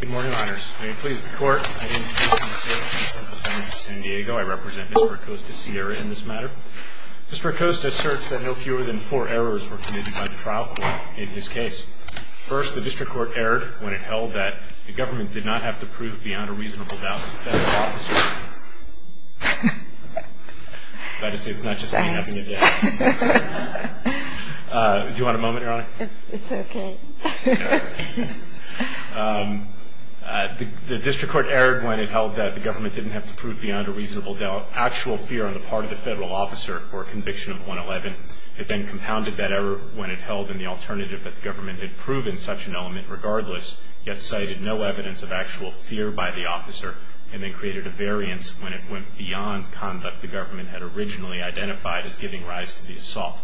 Good morning, honors. May it please the court, my name is Justin Sierra, District Attorney of San Diego. I represent Mr. Acosta-Sierra in this matter. Mr. Acosta asserts that no fewer than four errors were committed by the trial court in his case. First, the district court erred when it held that the government did not have to prove beyond a reasonable doubt that the officer... I'm sorry. Sorry to say it's not just me having a day. Do you want a moment, your honor? It's okay. The district court erred when it held that the government didn't have to prove beyond a reasonable doubt actual fear on the part of the federal officer for a conviction of 111. It then compounded that error when it held in the alternative that the government had proven such an element regardless, yet cited no evidence of actual fear by the officer, and then created a variance when it went beyond conduct the government had originally identified as giving rise to the assault.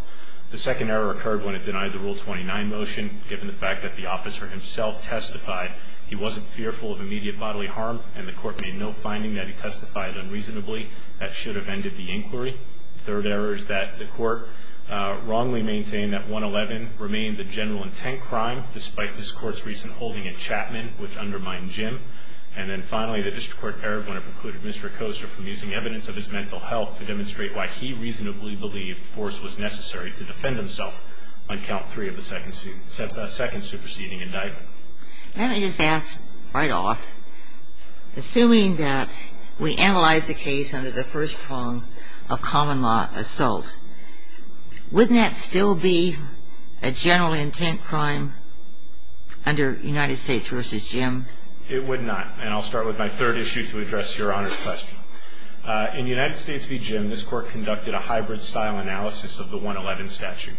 The second error occurred when it denied the Rule 29 motion, given the fact that the officer himself testified he wasn't fearful of immediate bodily harm, and the court made no finding that he testified unreasonably. That should have ended the inquiry. The third error is that the court wrongly maintained that 111 remained the general intent crime, despite this court's recent holding in Chapman, which undermined Jim. And then finally, the district court erred when it precluded Mr. Koster from using evidence of his mental health to demonstrate why he reasonably believed force was necessary to defend himself on count three of the second superseding indictment. Let me just ask right off, assuming that we analyze the case under the first prong of common law assault, wouldn't that still be a general intent crime under United States v. Jim? It would not. And I'll start with my third issue to address Your Honor's question. In United States v. Jim, this court conducted a hybrid style analysis of the 111 statute.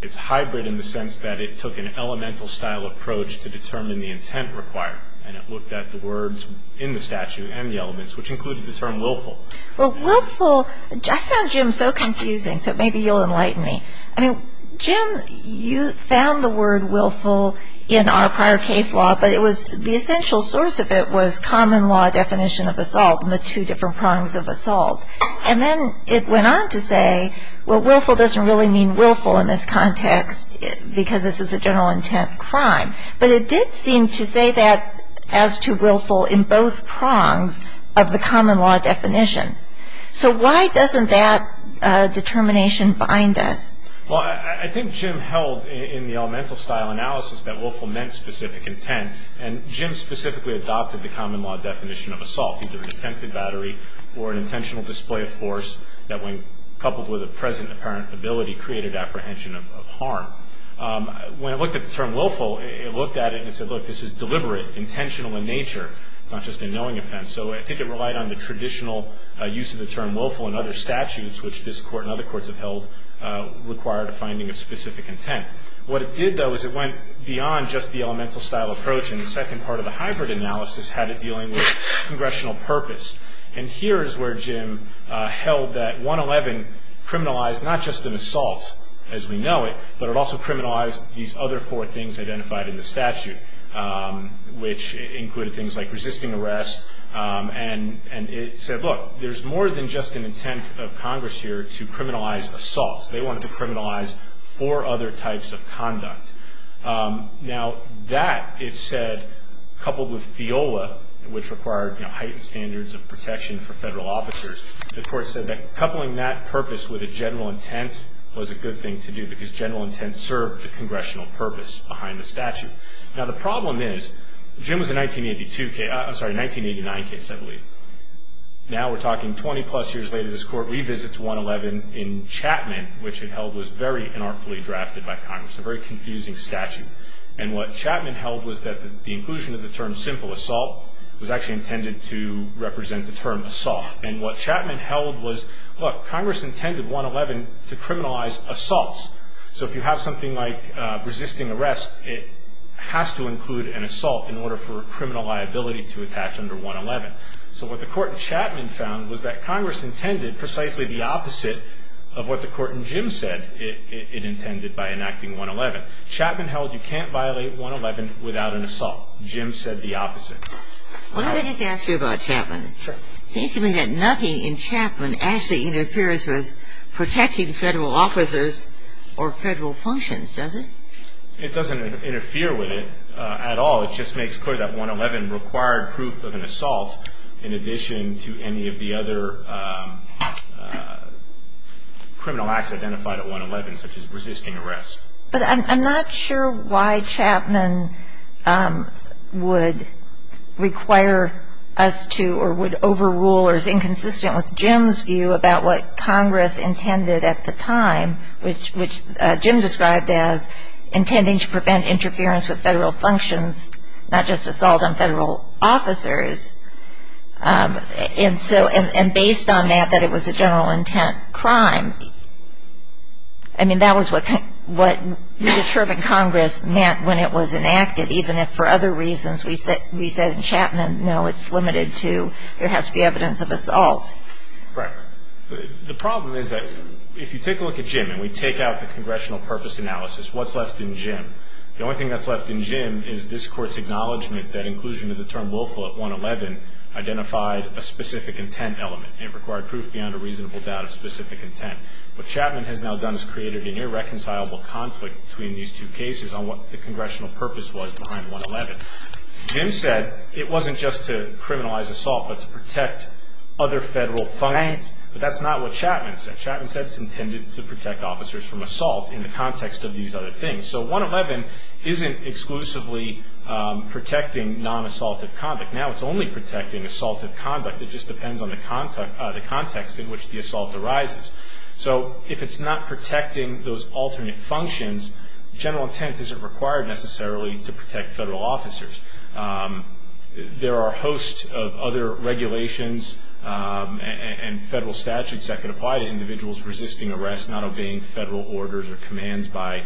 It's hybrid in the sense that it took an elemental style approach to determine the intent required, and it looked at the words in the statute and the elements, which included the term willful. Well, willful, I found Jim so confusing, so maybe you'll enlighten me. I mean, Jim, you found the word willful in our prior case law, but the essential source of it was common law definition of assault and the two different prongs of assault. And then it went on to say, well, willful doesn't really mean willful in this context because this is a general intent crime. But it did seem to say that as to willful in both prongs of the common law definition. So why doesn't that determination bind us? Well, I think Jim held in the elemental style analysis that willful meant specific intent, and Jim specifically adopted the common law definition of assault, either an attempted battery or an intentional display of force that when coupled with a present apparent ability created apprehension of harm. When it looked at the term willful, it looked at it and said, look, this is deliberate, intentional in nature. It's not just a knowing offense. And so I think it relied on the traditional use of the term willful in other statutes, which this Court and other courts have held required a finding of specific intent. What it did, though, is it went beyond just the elemental style approach, and the second part of the hybrid analysis had it dealing with congressional purpose. And here is where Jim held that 111 criminalized not just an assault, as we know it, but it also criminalized these other four things identified in the statute, which included things like resisting arrest, and it said, look, there's more than just an intent of Congress here to criminalize assaults. They wanted to criminalize four other types of conduct. Now that, it said, coupled with FIOLA, which required heightened standards of protection for federal officers, the Court said that coupling that purpose with a general intent was a good thing to do Now the problem is, Jim was a 1982 case, I'm sorry, a 1989 case, I believe. Now we're talking 20-plus years later, this Court revisits 111 in Chapman, which it held was very unartfully drafted by Congress, a very confusing statute. And what Chapman held was that the inclusion of the term simple assault was actually intended to represent the term assault. And what Chapman held was, look, Congress intended 111 to criminalize assaults. So if you have something like resisting arrest, it has to include an assault in order for criminal liability to attach under 111. So what the Court in Chapman found was that Congress intended precisely the opposite of what the Court in Jim said it intended by enacting 111. Chapman held you can't violate 111 without an assault. Jim said the opposite. Why don't I just ask you about Chapman? Sure. It seems to me that nothing in Chapman actually interferes with protecting federal officers or federal functions, does it? It doesn't interfere with it at all. It just makes clear that 111 required proof of an assault in addition to any of the other criminal acts identified at 111, such as resisting arrest. But I'm not sure why Chapman would require us to or would overrule or is inconsistent with Jim's view about what Congress intended at the time, which Jim described as intending to prevent interference with federal functions, not just assault on federal officers. And based on that, that it was a general intent crime. I mean, that was what we determined Congress meant when it was enacted, even if for other reasons we said in Chapman, no, it's limited to there has to be evidence of assault. Right. The problem is that if you take a look at Jim and we take out the congressional purpose analysis, what's left in Jim? The only thing that's left in Jim is this Court's acknowledgement that inclusion of the term willful at 111 identified a specific intent element and required proof beyond a reasonable doubt of specific intent. What Chapman has now done is created an irreconcilable conflict between these two cases on what the congressional purpose was behind 111. Jim said it wasn't just to criminalize assault but to protect other federal functions. Right. But that's not what Chapman said. Chapman said it's intended to protect officers from assault in the context of these other things. So 111 isn't exclusively protecting non-assaultive conduct. Now it's only protecting assaultive conduct. It just depends on the context in which the assault arises. So if it's not protecting those alternate functions, general intent isn't required necessarily to protect federal officers. There are a host of other regulations and federal statutes that can apply to individuals resisting arrest, not obeying federal orders or commands by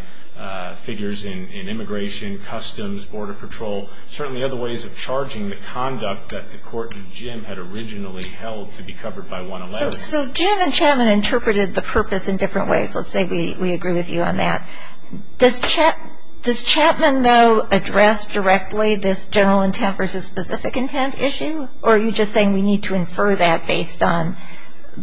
figures in immigration, customs, border patrol, certainly other ways of charging the conduct that the court in Jim had originally held to be covered by 111. So Jim and Chapman interpreted the purpose in different ways. Let's say we agree with you on that. Does Chapman, though, address directly this general intent versus specific intent issue, or are you just saying we need to infer that based on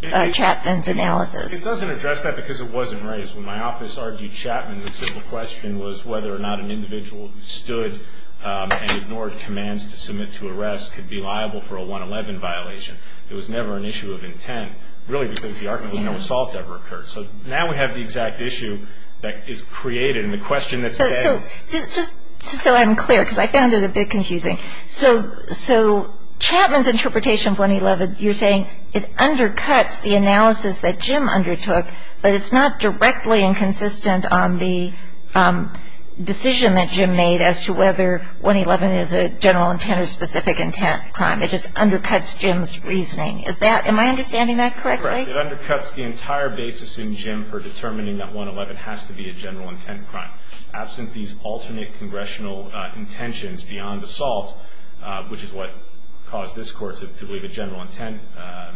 Chapman's analysis? It doesn't address that because it wasn't raised. When my office argued Chapman, the simple question was whether or not an individual who stood and ignored commands to submit to arrest could be liable for a 111 violation. It was never an issue of intent, really because the argument was no assault ever occurred. So now we have the exact issue that is created. And the question that's been asked. So I'm clear because I found it a bit confusing. So Chapman's interpretation of 111, you're saying it undercuts the analysis that Jim undertook, but it's not directly inconsistent on the decision that Jim made as to whether 111 is a general intent or specific intent crime. It just undercuts Jim's reasoning. Am I understanding that correctly? Correct. It undercuts the entire basis in Jim for determining that 111 has to be a general intent crime. Absent these alternate congressional intentions beyond assault, which is what caused this court to believe a general intent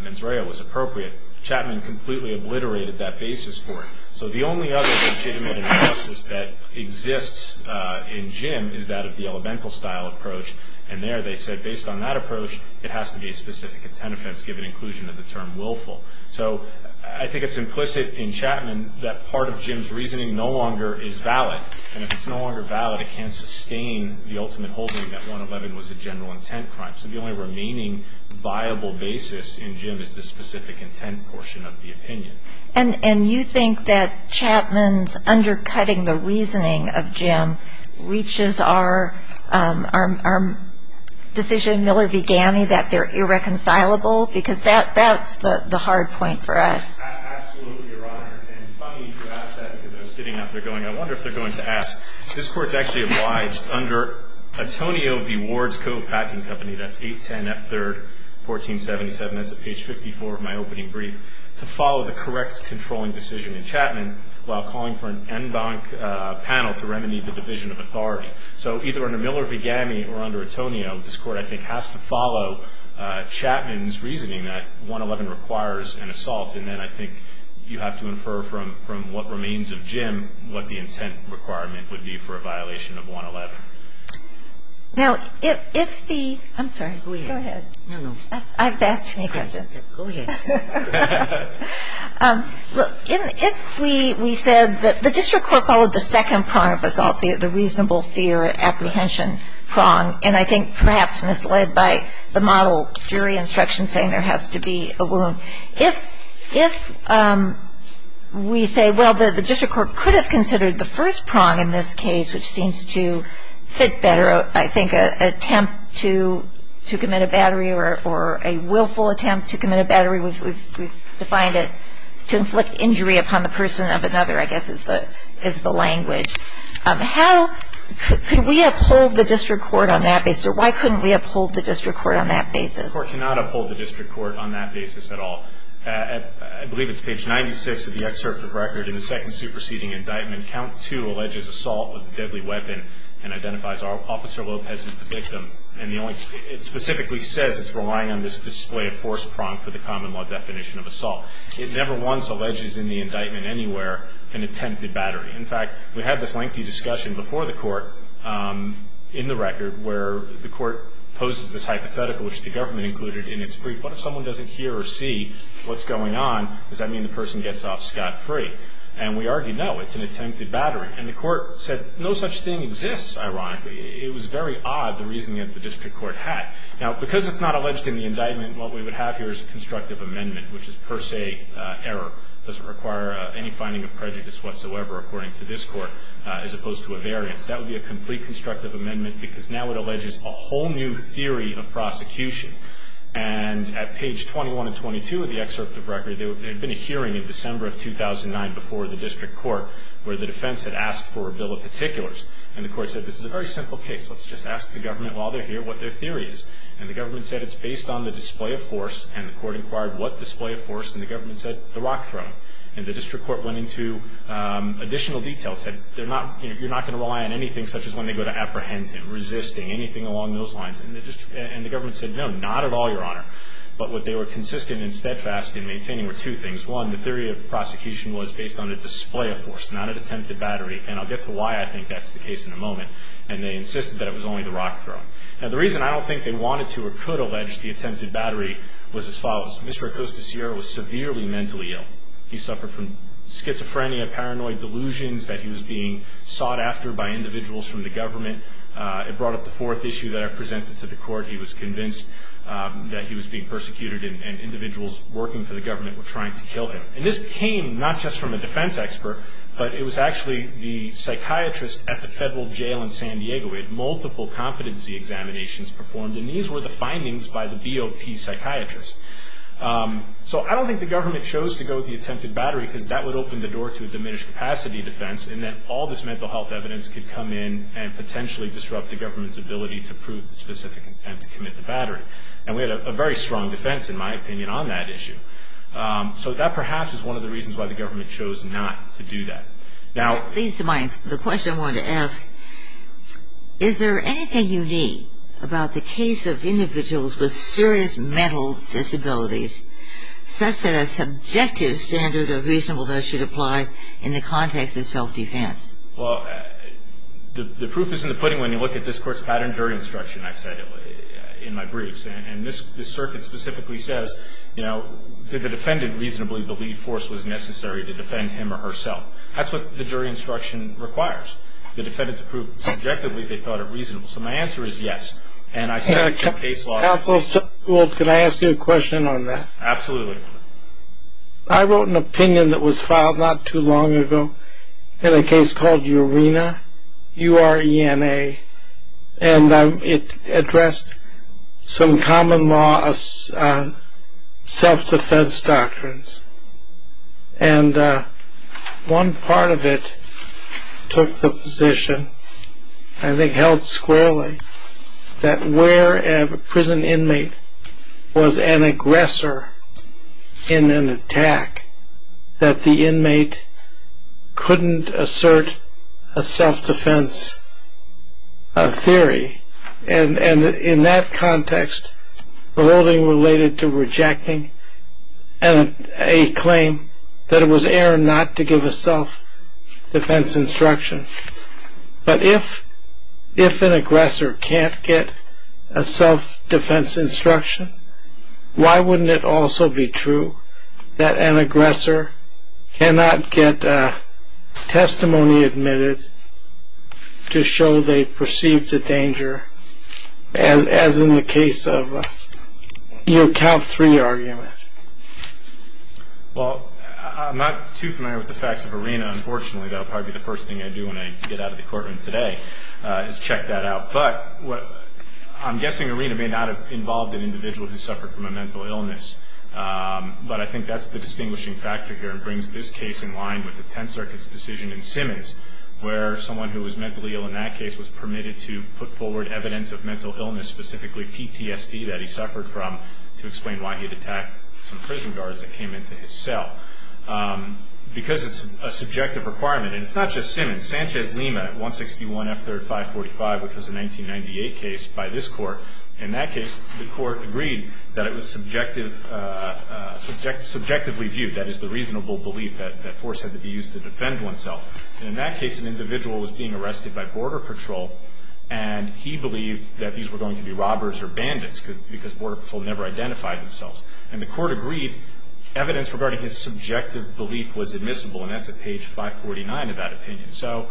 mens rea was appropriate, Chapman completely obliterated that basis for it. So the only other legitimate analysis that exists in Jim is that of the elemental style approach. And there they said based on that approach, it has to be a specific intent offense given inclusion of the term willful. So I think it's implicit in Chapman that part of Jim's reasoning no longer is valid. And if it's no longer valid, it can't sustain the ultimate holding that 111 was a general intent crime. So the only remaining viable basis in Jim is the specific intent portion of the opinion. And you think that Chapman's undercutting the reasoning of Jim reaches our decision Miller began, that they're irreconcilable? Because that's the hard point for us. Absolutely, Your Honor. And funny you ask that because I was sitting out there going, I wonder if they're going to ask. This court's actually obliged under Atonio v. Wards Cove Packing Company, that's 810 F. 3rd, 1477, that's at page 54 of my opening brief, to follow the correct controlling decision in Chapman while calling for an en banc panel to remedy the division of authority. So either under Miller v. Gami or under Atonio, this court, I think, has to follow Chapman's reasoning that 111 requires an assault. And then I think you have to infer from what remains of Jim what the intent requirement would be for a violation of 111. Now, if the ‑‑ I'm sorry. Go ahead. I've asked too many questions. Go ahead. Look, if we said that the district court followed the second prong of assault, the reasonable fear apprehension prong, and I think perhaps misled by the model jury instruction saying there has to be a wound, if we say, well, the district court could have considered the first prong in this case, which seems to fit better, I think, an attempt to commit a battery or a willful attempt to commit a battery. We've defined it to inflict injury upon the person of another, I guess, is the language. How could we uphold the district court on that basis? Or why couldn't we uphold the district court on that basis? I therefore cannot uphold the district court on that basis at all. I believe it's page 96 of the excerpt of record in the second superseding indictment. Count 2 alleges assault with a deadly weapon and identifies Officer Lopez as the victim. And it specifically says it's relying on this display of force prong for the common law definition of assault. It never once alleges in the indictment anywhere an attempted battery. In fact, we had this lengthy discussion before the court in the record where the court poses this hypothetical, which the government included in its brief. What if someone doesn't hear or see what's going on? Does that mean the person gets off scot-free? And we argued, no, it's an attempted battery. And the court said no such thing exists, ironically. It was very odd, the reasoning that the district court had. Now, because it's not alleged in the indictment, what we would have here is a constructive amendment, which is per se error, doesn't require any finding of prejudice whatsoever, according to this court, as opposed to a variance. That would be a complete constructive amendment because now it alleges a whole new theory of prosecution. And at page 21 and 22 of the excerpt of the record, there had been a hearing in December of 2009 before the district court where the defense had asked for a bill of particulars. And the court said this is a very simple case. Let's just ask the government while they're here what their theory is. And the government said it's based on the display of force, and the court inquired what display of force, and the government said the rock throwing. And the district court went into additional detail. It said you're not going to rely on anything such as when they go to apprehend him, resisting, anything along those lines. And the government said no, not at all, Your Honor. But what they were consistent and steadfast in maintaining were two things. One, the theory of prosecution was based on a display of force, not an attempted battery. And I'll get to why I think that's the case in a moment. And they insisted that it was only the rock throwing. Now, the reason I don't think they wanted to or could allege the attempted battery was as follows. Mr. Acosta Sierra was severely mentally ill. He suffered from schizophrenia, paranoid delusions that he was being sought after by individuals from the government. It brought up the fourth issue that I presented to the court. He was convinced that he was being persecuted and individuals working for the government were trying to kill him. And this came not just from a defense expert, but it was actually the psychiatrist at the federal jail in San Diego. He had multiple competency examinations performed, and these were the findings by the BOP psychiatrist. So I don't think the government chose to go with the attempted battery because that would open the door to a diminished capacity defense in that all this mental health evidence could come in and potentially disrupt the government's ability to prove the specific intent to commit the battery. And we had a very strong defense, in my opinion, on that issue. So that perhaps is one of the reasons why the government chose not to do that. That leads to the question I wanted to ask. Is there anything unique about the case of individuals with serious mental disabilities such that a subjective standard of reasonableness should apply in the context of self-defense? Well, the proof is in the pudding when you look at this court's pattern jury instruction, I've said in my briefs. And this circuit specifically says that the defendant reasonably believed force was necessary to defend him or herself. That's what the jury instruction requires. The defendants approved subjectively they thought it reasonable. So my answer is yes. And I said it's in case law. Counsel, can I ask you a question on that? Absolutely. I wrote an opinion that was filed not too long ago in a case called Urena, U-R-E-N-A. And it addressed some common law self-defense doctrines. And one part of it took the position, I think held squarely, that where a prison inmate was an aggressor in an attack, that the inmate couldn't assert a self-defense theory. And in that context, the holding related to rejecting a claim that it was error not to give a self-defense instruction. But if an aggressor can't get a self-defense instruction, why wouldn't it also be true that an aggressor cannot get a testimony admitted to show they perceived the danger, as in the case of your top three argument? Well, I'm not too familiar with the facts of Urena, unfortunately. That'll probably be the first thing I do when I get out of the courtroom today, is check that out. But I'm guessing Urena may not have involved an individual who suffered from a mental illness. But I think that's the distinguishing factor here, and brings this case in line with the Tenth Circuit's decision in Simmons, where someone who was mentally ill in that case was permitted to put forward evidence of mental illness, specifically PTSD, that he suffered from, to explain why he had attacked some prison guards that came into his cell. In Sanchez-Lima, 161 F. 3rd 545, which was a 1998 case by this Court, in that case, the Court agreed that it was subjectively viewed, that is, the reasonable belief that force had to be used to defend oneself. And in that case, an individual was being arrested by Border Patrol, and he believed that these were going to be robbers or bandits, because Border Patrol never identified themselves. And the Court agreed evidence regarding his subjective belief was admissible, and that's at page 549 of that opinion. So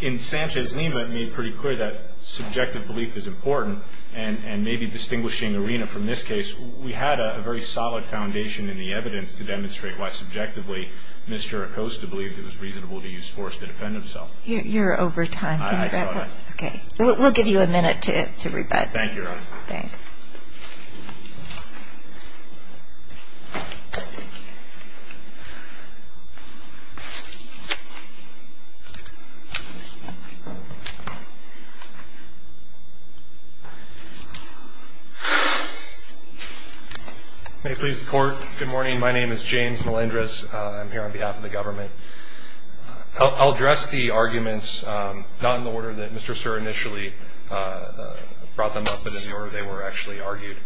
in Sanchez-Lima, it made pretty clear that subjective belief is important, and maybe distinguishing Urena from this case, we had a very solid foundation in the evidence to demonstrate why, subjectively, Mr. Acosta believed it was reasonable to use force to defend himself. You're over time. I saw that. Okay. We'll give you a minute to rebut. Thank you, Your Honor. Thanks. May it please the Court. Good morning. My name is James Melendrez. I'm here on behalf of the government. I'll address the arguments, not in the order that Mr. Sir initially brought them up, but in the order they were actually argued.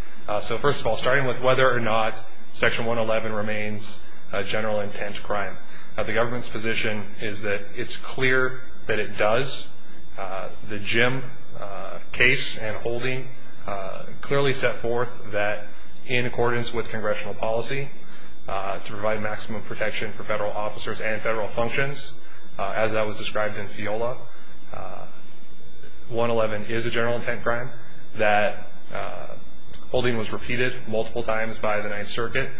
So, first of all, starting with whether or not Section 111 remains a general intent crime. The government's position is that it's clear that it does. The Jim case and holding clearly set forth that in accordance with congressional policy, to provide maximum protection for federal officers and federal functions, as that was described in FIOLA, 111 is a general intent crime, that holding was repeated multiple times by the Ninth Circuit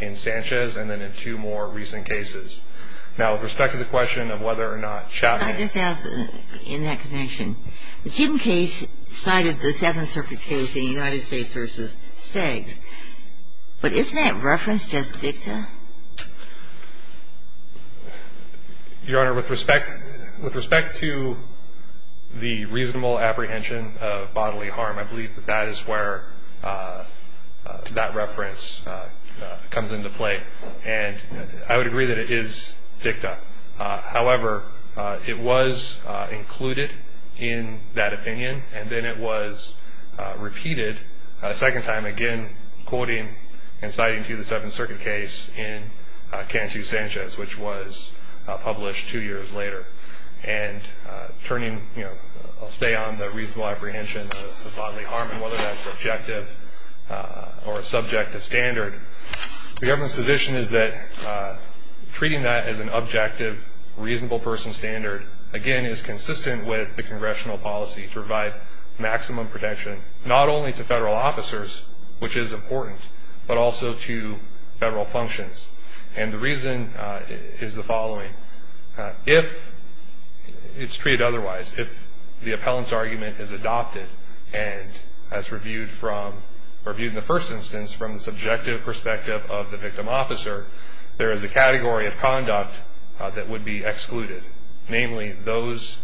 in Sanchez and then in two more recent cases. Now, with respect to the question of whether or not Chapman ---- Can I just ask, in that connection, the Jim case cited the Seventh Circuit case in the United States v. Staggs, but isn't that reference just dicta? Your Honor, with respect to the reasonable apprehension of bodily harm, I believe that that is where that reference comes into play, and I would agree that it is dicta. However, it was included in that opinion, and then it was repeated a second time, again, quoting and citing to you the Seventh Circuit case in Cantu-Sanchez, which was published two years later. And I'll stay on the reasonable apprehension of bodily harm and whether that's objective or a subjective standard. The government's position is that treating that as an objective, reasonable person standard, again, is consistent with the congressional policy to provide maximum protection not only to federal officers, which is important, but also to federal functions. And the reason is the following. If it's treated otherwise, if the appellant's argument is adopted and as reviewed in the first instance from the subjective perspective of the victim officer, there is a category of conduct that would be excluded, namely those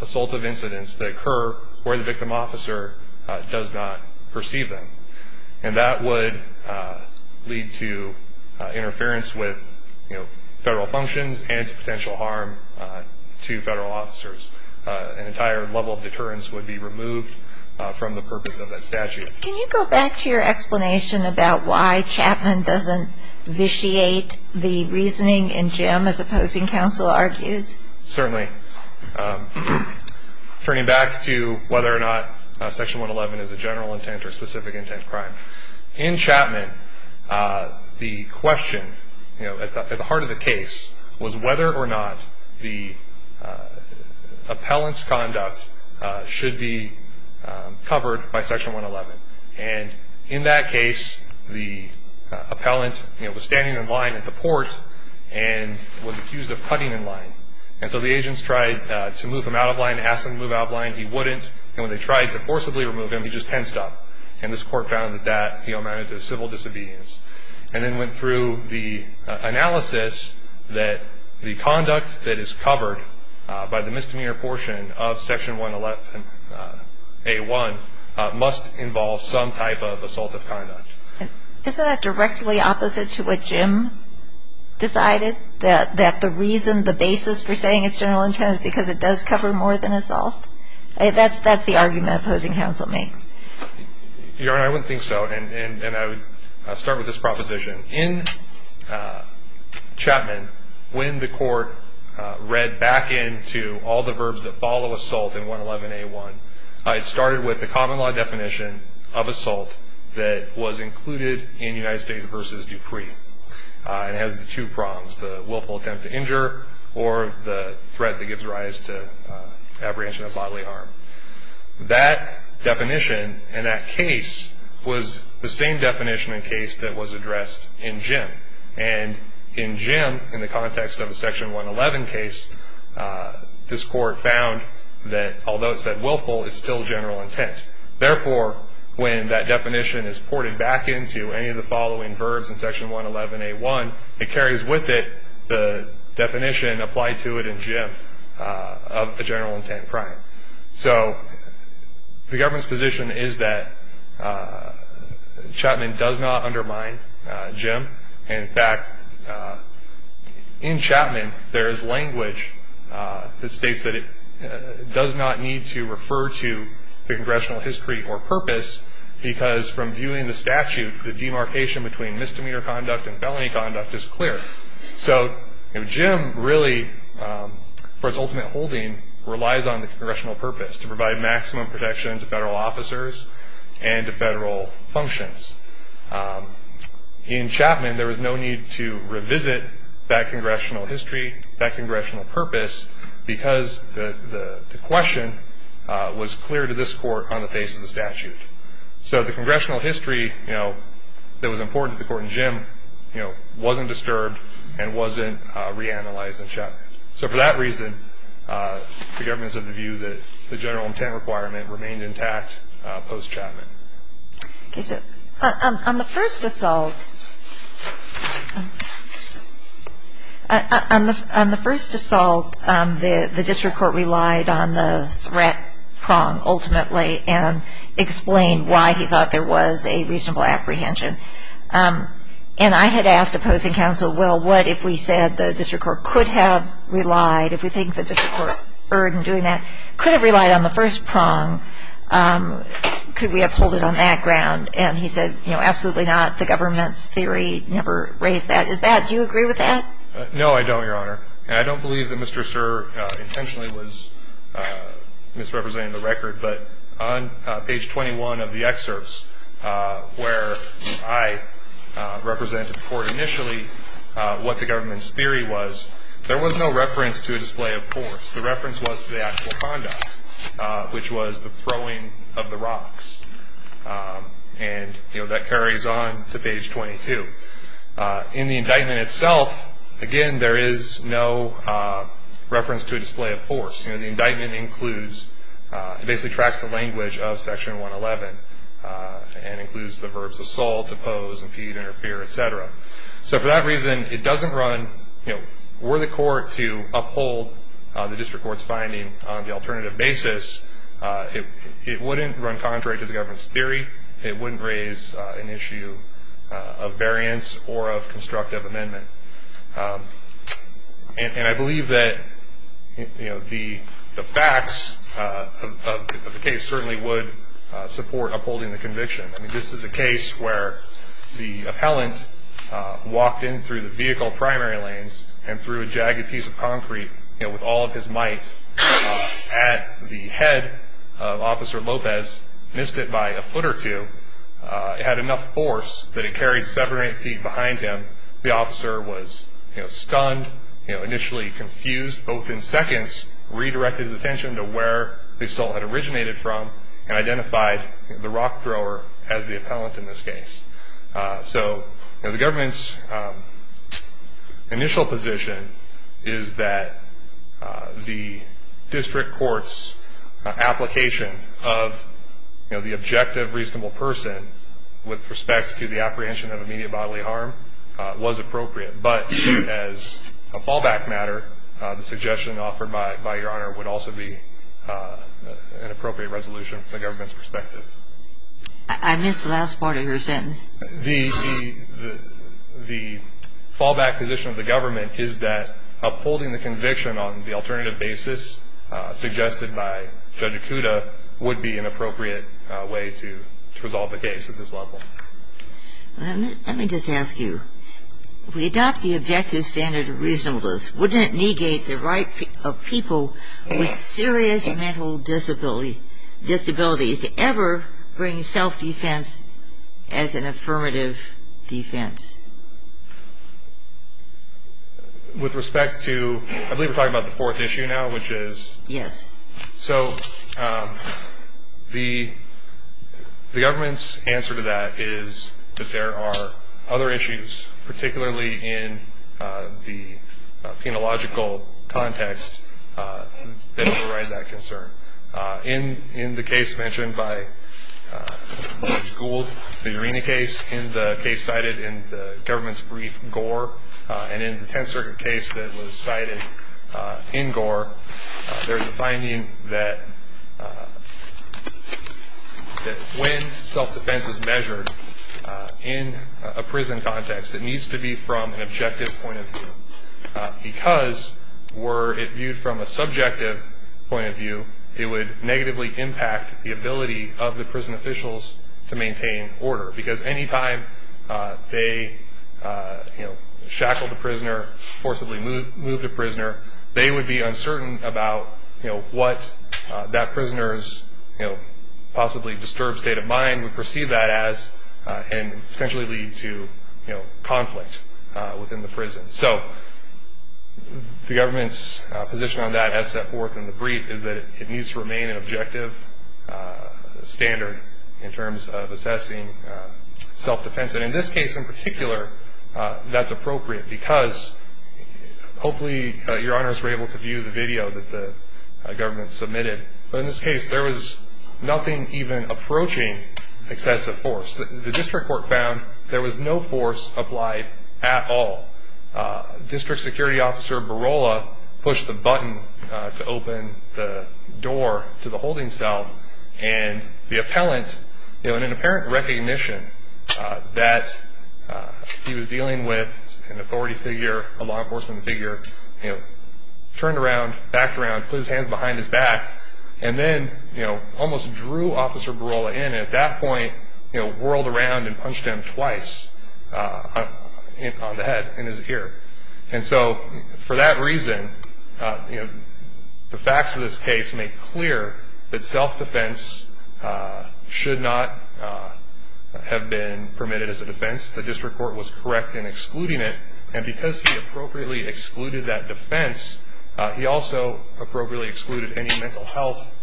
assaultive incidents that occur where the victim officer does not perceive them. And that would lead to interference with federal functions and to potential harm to federal officers. An entire level of deterrence would be removed from the purpose of that statute. Can you go back to your explanation about why Chapman doesn't vitiate the reasoning in Jim as opposing counsel argues? Certainly. Turning back to whether or not Section 111 is a general intent or specific intent crime, in Chapman the question at the heart of the case was whether or not the appellant's conduct should be covered by Section 111. And in that case the appellant was standing in line at the port and was accused of cutting in line. And so the agents tried to move him out of line, ask him to move out of line. He wouldn't. And when they tried to forcibly remove him, he just tensed up. And this court found that that amounted to civil disobedience and then went through the analysis that the conduct that is covered by the misdemeanor portion of Section 111A1 must involve some type of assaultive conduct. Isn't that directly opposite to what Jim decided, that the reason the basis for saying it's general intent is because it does cover more than assault? That's the argument opposing counsel makes. Your Honor, I wouldn't think so. And I would start with this proposition. In Chapman, when the court read back into all the verbs that follow assault in 111A1, it started with the common law definition of assault that was included in United States v. Dupree. It has the two prongs, the willful attempt to injure or the threat that gives rise to apprehension of bodily harm. That definition in that case was the same definition in case that was addressed in Jim. And in Jim, in the context of the Section 111 case, this court found that although it said willful, it's still general intent. Therefore, when that definition is ported back into any of the following verbs in Section 111A1, it carries with it the definition applied to it in Jim of the general intent crime. So the government's position is that Chapman does not undermine Jim. In fact, in Chapman, there is language that states that it does not need to refer to the congressional history or purpose because from viewing the statute, the demarcation between misdemeanor conduct and felony conduct is clear. So Jim really, for its ultimate holding, relies on the congressional purpose to provide maximum protection to federal officers and to federal functions. In Chapman, there was no need to revisit that congressional history, that congressional purpose, because the question was clear to this court on the face of the statute. So the congressional history, you know, that was important to the court in Jim, you know, wasn't disturbed and wasn't reanalyzed in Chapman. So for that reason, the government's of the view that the general intent requirement remained intact post-Chapman. Okay, so on the first assault, on the first assault, the district court relied on the threat prong ultimately and explained why he thought there was a reasonable apprehension. And I had asked opposing counsel, well, what if we said the district court could have relied, if we think the district court burdened doing that, could have relied on the first prong? Could we have pulled it on that ground? And he said, you know, absolutely not. The government's theory never raised that. Is that, do you agree with that? No, I don't, Your Honor. And I don't believe that Mr. Sirr intentionally was misrepresenting the record. But on page 21 of the excerpts where I represented to the court initially what the government's theory was, there was no reference to a display of force. The reference was to the actual conduct, which was the throwing of the rocks. And, you know, that carries on to page 22. In the indictment itself, again, there is no reference to a display of force. You know, the indictment includes, it basically tracks the language of Section 111 and includes the verbs assault, oppose, impede, interfere, et cetera. So for that reason, it doesn't run, you know, were the court to uphold the district court's finding on the alternative basis, it wouldn't run contrary to the government's theory. It wouldn't raise an issue of variance or of constructive amendment. And I believe that, you know, the facts of the case certainly would support upholding the conviction. I mean, this is a case where the appellant walked in through the vehicle primary lanes and threw a jagged piece of concrete, you know, with all of his might at the head of Officer Lopez, missed it by a foot or two, had enough force that it carried seven or eight feet behind him. The officer was, you know, stunned, you know, initially confused, but within seconds redirected his attention to where the assault had originated from and identified the rock thrower as the appellant in this case. So, you know, the government's initial position is that the district court's application of, you know, the objective reasonable person with respect to the apprehension of immediate bodily harm was appropriate. But as a fallback matter, the suggestion offered by Your Honor would also be an appropriate resolution from the government's perspective. I missed the last part of your sentence. The fallback position of the government is that upholding the conviction on the alternative basis suggested by Judge Acuda would be an appropriate way to resolve the case at this level. Let me just ask you. If we adopt the objective standard of reasonableness, wouldn't it negate the right of people with serious mental disabilities to ever bring self-defense as an affirmative defense? With respect to, I believe we're talking about the fourth issue now, which is... Yes. So the government's answer to that is that there are other issues, particularly in the penological context that override that concern. In the case mentioned by Judge Gould, the Urena case, in the case cited in the government's brief, Gore, and in the Tenth Circuit case that was cited in Gore, there's a finding that when self-defense is measured in a prison context, it needs to be from an objective point of view. Because were it viewed from a subjective point of view, it would negatively impact the ability of the prison officials to maintain order. Because any time they shackle the prisoner, forcibly move the prisoner, they would be uncertain about what that prisoner's possibly disturbed state of mind would perceive that as and potentially lead to conflict within the prison. So the government's position on that as set forth in the brief is that it needs to remain an objective standard in terms of assessing self-defense. And in this case in particular, that's appropriate, because hopefully your honors were able to view the video that the government submitted. But in this case, there was nothing even approaching excessive force. The district court found there was no force applied at all. District Security Officer Barola pushed the button to open the door to the holding cell, and the appellant, in an apparent recognition that he was dealing with an authority figure, a law enforcement figure, turned around, backed around, put his hands behind his back, and then almost drew Officer Barola in. And at that point, whirled around and punched him twice on the head in his ear. And so for that reason, the facts of this case make clear that self-defense should not have been permitted as a defense. The district court was correct in excluding it. And because he appropriately excluded that defense, he also appropriately excluded any mental health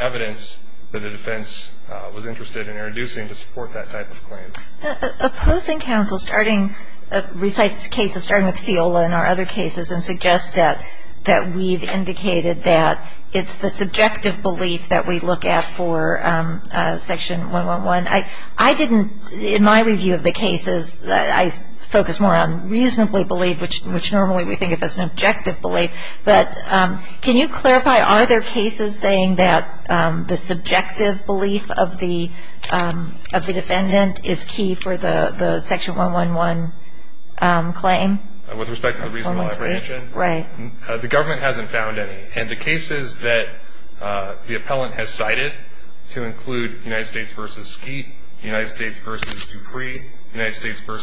evidence that the defense was interested in introducing to support that type of claim. Opposing counsel recites cases starting with Fiola and our other cases and suggests that we've indicated that it's the subjective belief that we look at for Section 111. In my review of the cases, I focus more on reasonably believed, which normally we think of as an objective belief. But can you clarify, are there cases saying that the subjective belief of the defendant is key for the Section 111 claim? With respect to the reasonable apprehension? Right. The government hasn't found any. And the cases that the appellant has cited to include United States v. Skeet, United States v. Dupree, United States v.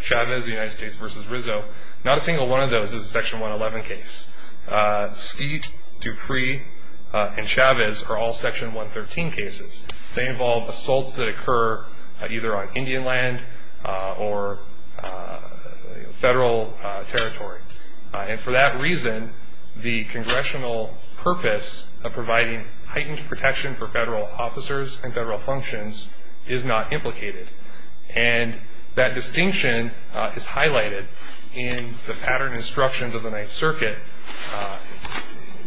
Chavez, United States v. Rizzo, not a single one of those is a Section 111 case. Skeet, Dupree, and Chavez are all Section 113 cases. They involve assaults that occur either on Indian land or federal territory. And for that reason, the congressional purpose of providing heightened protection for federal officers and federal functions is not implicated. And that distinction is highlighted in the pattern instructions of the Ninth Circuit.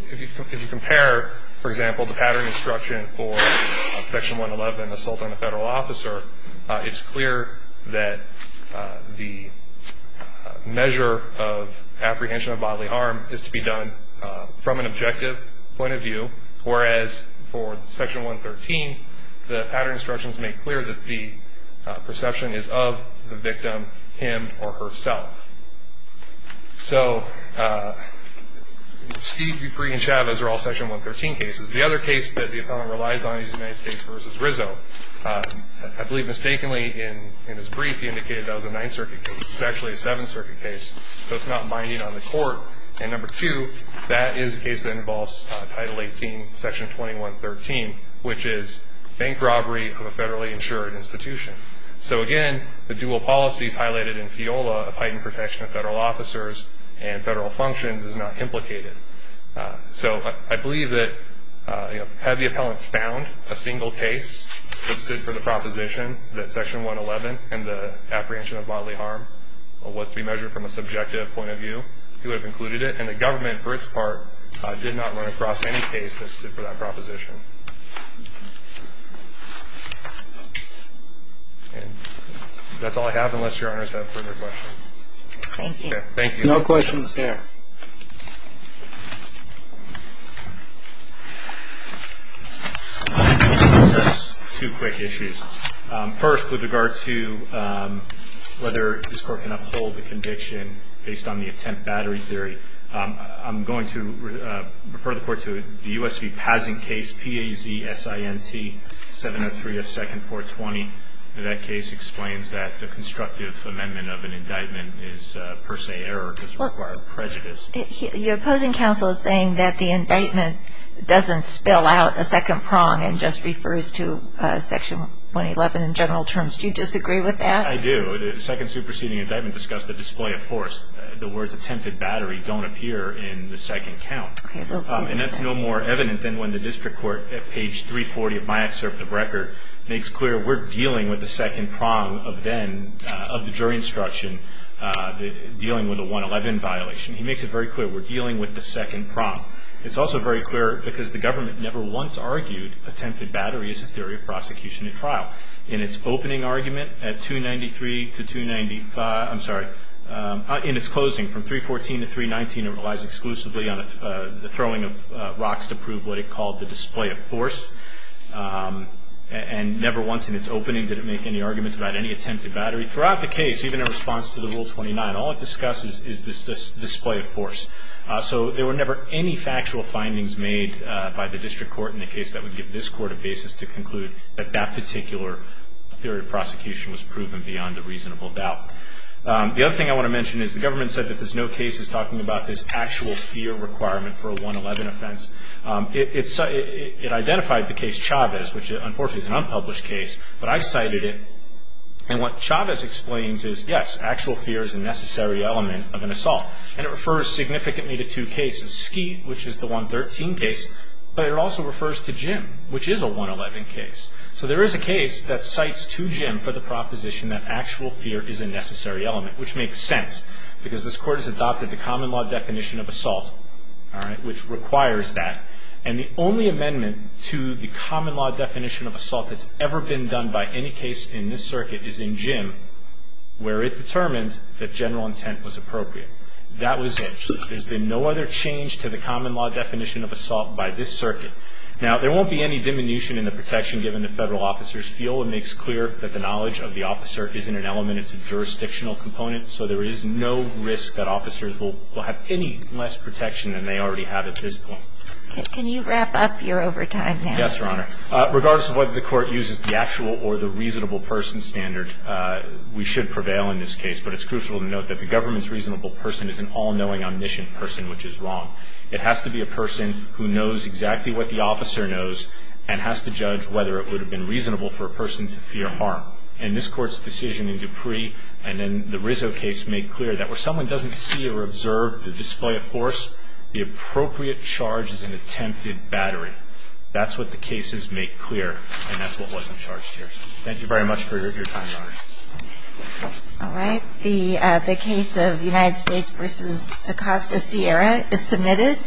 If you compare, for example, the pattern instruction for Section 111, assault on a federal officer, it's clear that the measure of apprehension of bodily harm is to be done from an objective point of view, whereas for Section 113, the pattern instructions make clear that the perception is of the victim, him or herself. So Skeet, Dupree, and Chavez are all Section 113 cases. The other case that the appellant relies on is United States v. Rizzo. I believe mistakenly in his brief he indicated that was a Ninth Circuit case. It's actually a Seventh Circuit case, so it's not binding on the court. And number two, that is a case that involves Title 18, Section 2113, which is bank robbery of a federally insured institution. So again, the dual policies highlighted in FIOLA of heightened protection of federal officers and federal functions is not implicated. So I believe that had the appellant found a single case that stood for the proposition that Section 111 and the apprehension of bodily harm was to be measured from a subjective point of view, he would have included it. And the government, for its part, did not run across any case that stood for that proposition. And that's all I have, unless Your Honors have further questions. Thank you. Thank you. No questions there. Just two quick issues. First, with regard to whether this Court can uphold the conviction based on the attempt battery theory, I'm going to refer the Court to the U.S. v. Pazin case, P-A-Z-S-I-N-T, 703 F. 2nd, 420. That case explains that the constructive amendment of an indictment is per se error because it required prejudice. Your opposing counsel is saying that the indictment doesn't spill out a second prong and just refers to Section 111 in general terms. Do you disagree with that? I do. The second superseding indictment discussed the display of force. The words attempted battery don't appear in the second count. And that's no more evident than when the district court, at page 340 of my excerpt of record, makes clear we're dealing with the second prong of then, of the jury instruction, dealing with a 111 violation. He makes it very clear we're dealing with the second prong. It's also very clear because the government never once argued attempted battery is a theory of prosecution in trial. In its opening argument at 293 to 295, I'm sorry, in its closing from 314 to 319, it relies exclusively on the throwing of rocks to prove what it called the display of force. And never once in its opening did it make any arguments about any attempted battery. Throughout the case, even in response to the Rule 29, all it discusses is this display of force. So there were never any factual findings made by the district court in the case that would give this court a basis to conclude that that particular theory of prosecution was proven beyond a reasonable doubt. The other thing I want to mention is the government said that there's no cases talking about this actual fear requirement for a 111 offense. It identified the case Chavez, which unfortunately is an unpublished case, but I cited it. And what Chavez explains is, yes, actual fear is a necessary element of an assault. And it refers significantly to two cases, Skeet, which is the 113 case, but it also refers to Jim, which is a 111 case. So there is a case that cites to Jim for the proposition that actual fear is a necessary element, which makes sense because this court has adopted the common law definition of assault, all right, which requires that. And the only amendment to the common law definition of assault that's ever been done by any case in this circuit is in Jim, where it determines that general intent was appropriate. That was it. There's been no other change to the common law definition of assault by this circuit. Now, there won't be any diminution in the protection given the federal officer's feel. It makes clear that the knowledge of the officer isn't an element. It's a jurisdictional component. So there is no risk that officers will have any less protection than they already have at this point. Can you wrap up your overtime now? Yes, Your Honor. Regardless of whether the court uses the actual or the reasonable person standard, we should prevail in this case. But it's crucial to note that the government's reasonable person is an all-knowing, omniscient person, which is wrong. It has to be a person who knows exactly what the officer knows and has to judge whether it would have been reasonable for a person to fear harm. And this Court's decision in Dupree and in the Rizzo case made clear that where someone doesn't see or observe the display of force, the appropriate charge is an attempted battery. That's what the cases make clear, and that's what wasn't charged here. Thank you very much for your time, Your Honor. All right. The case of United States v. Acosta Sierra is submitted.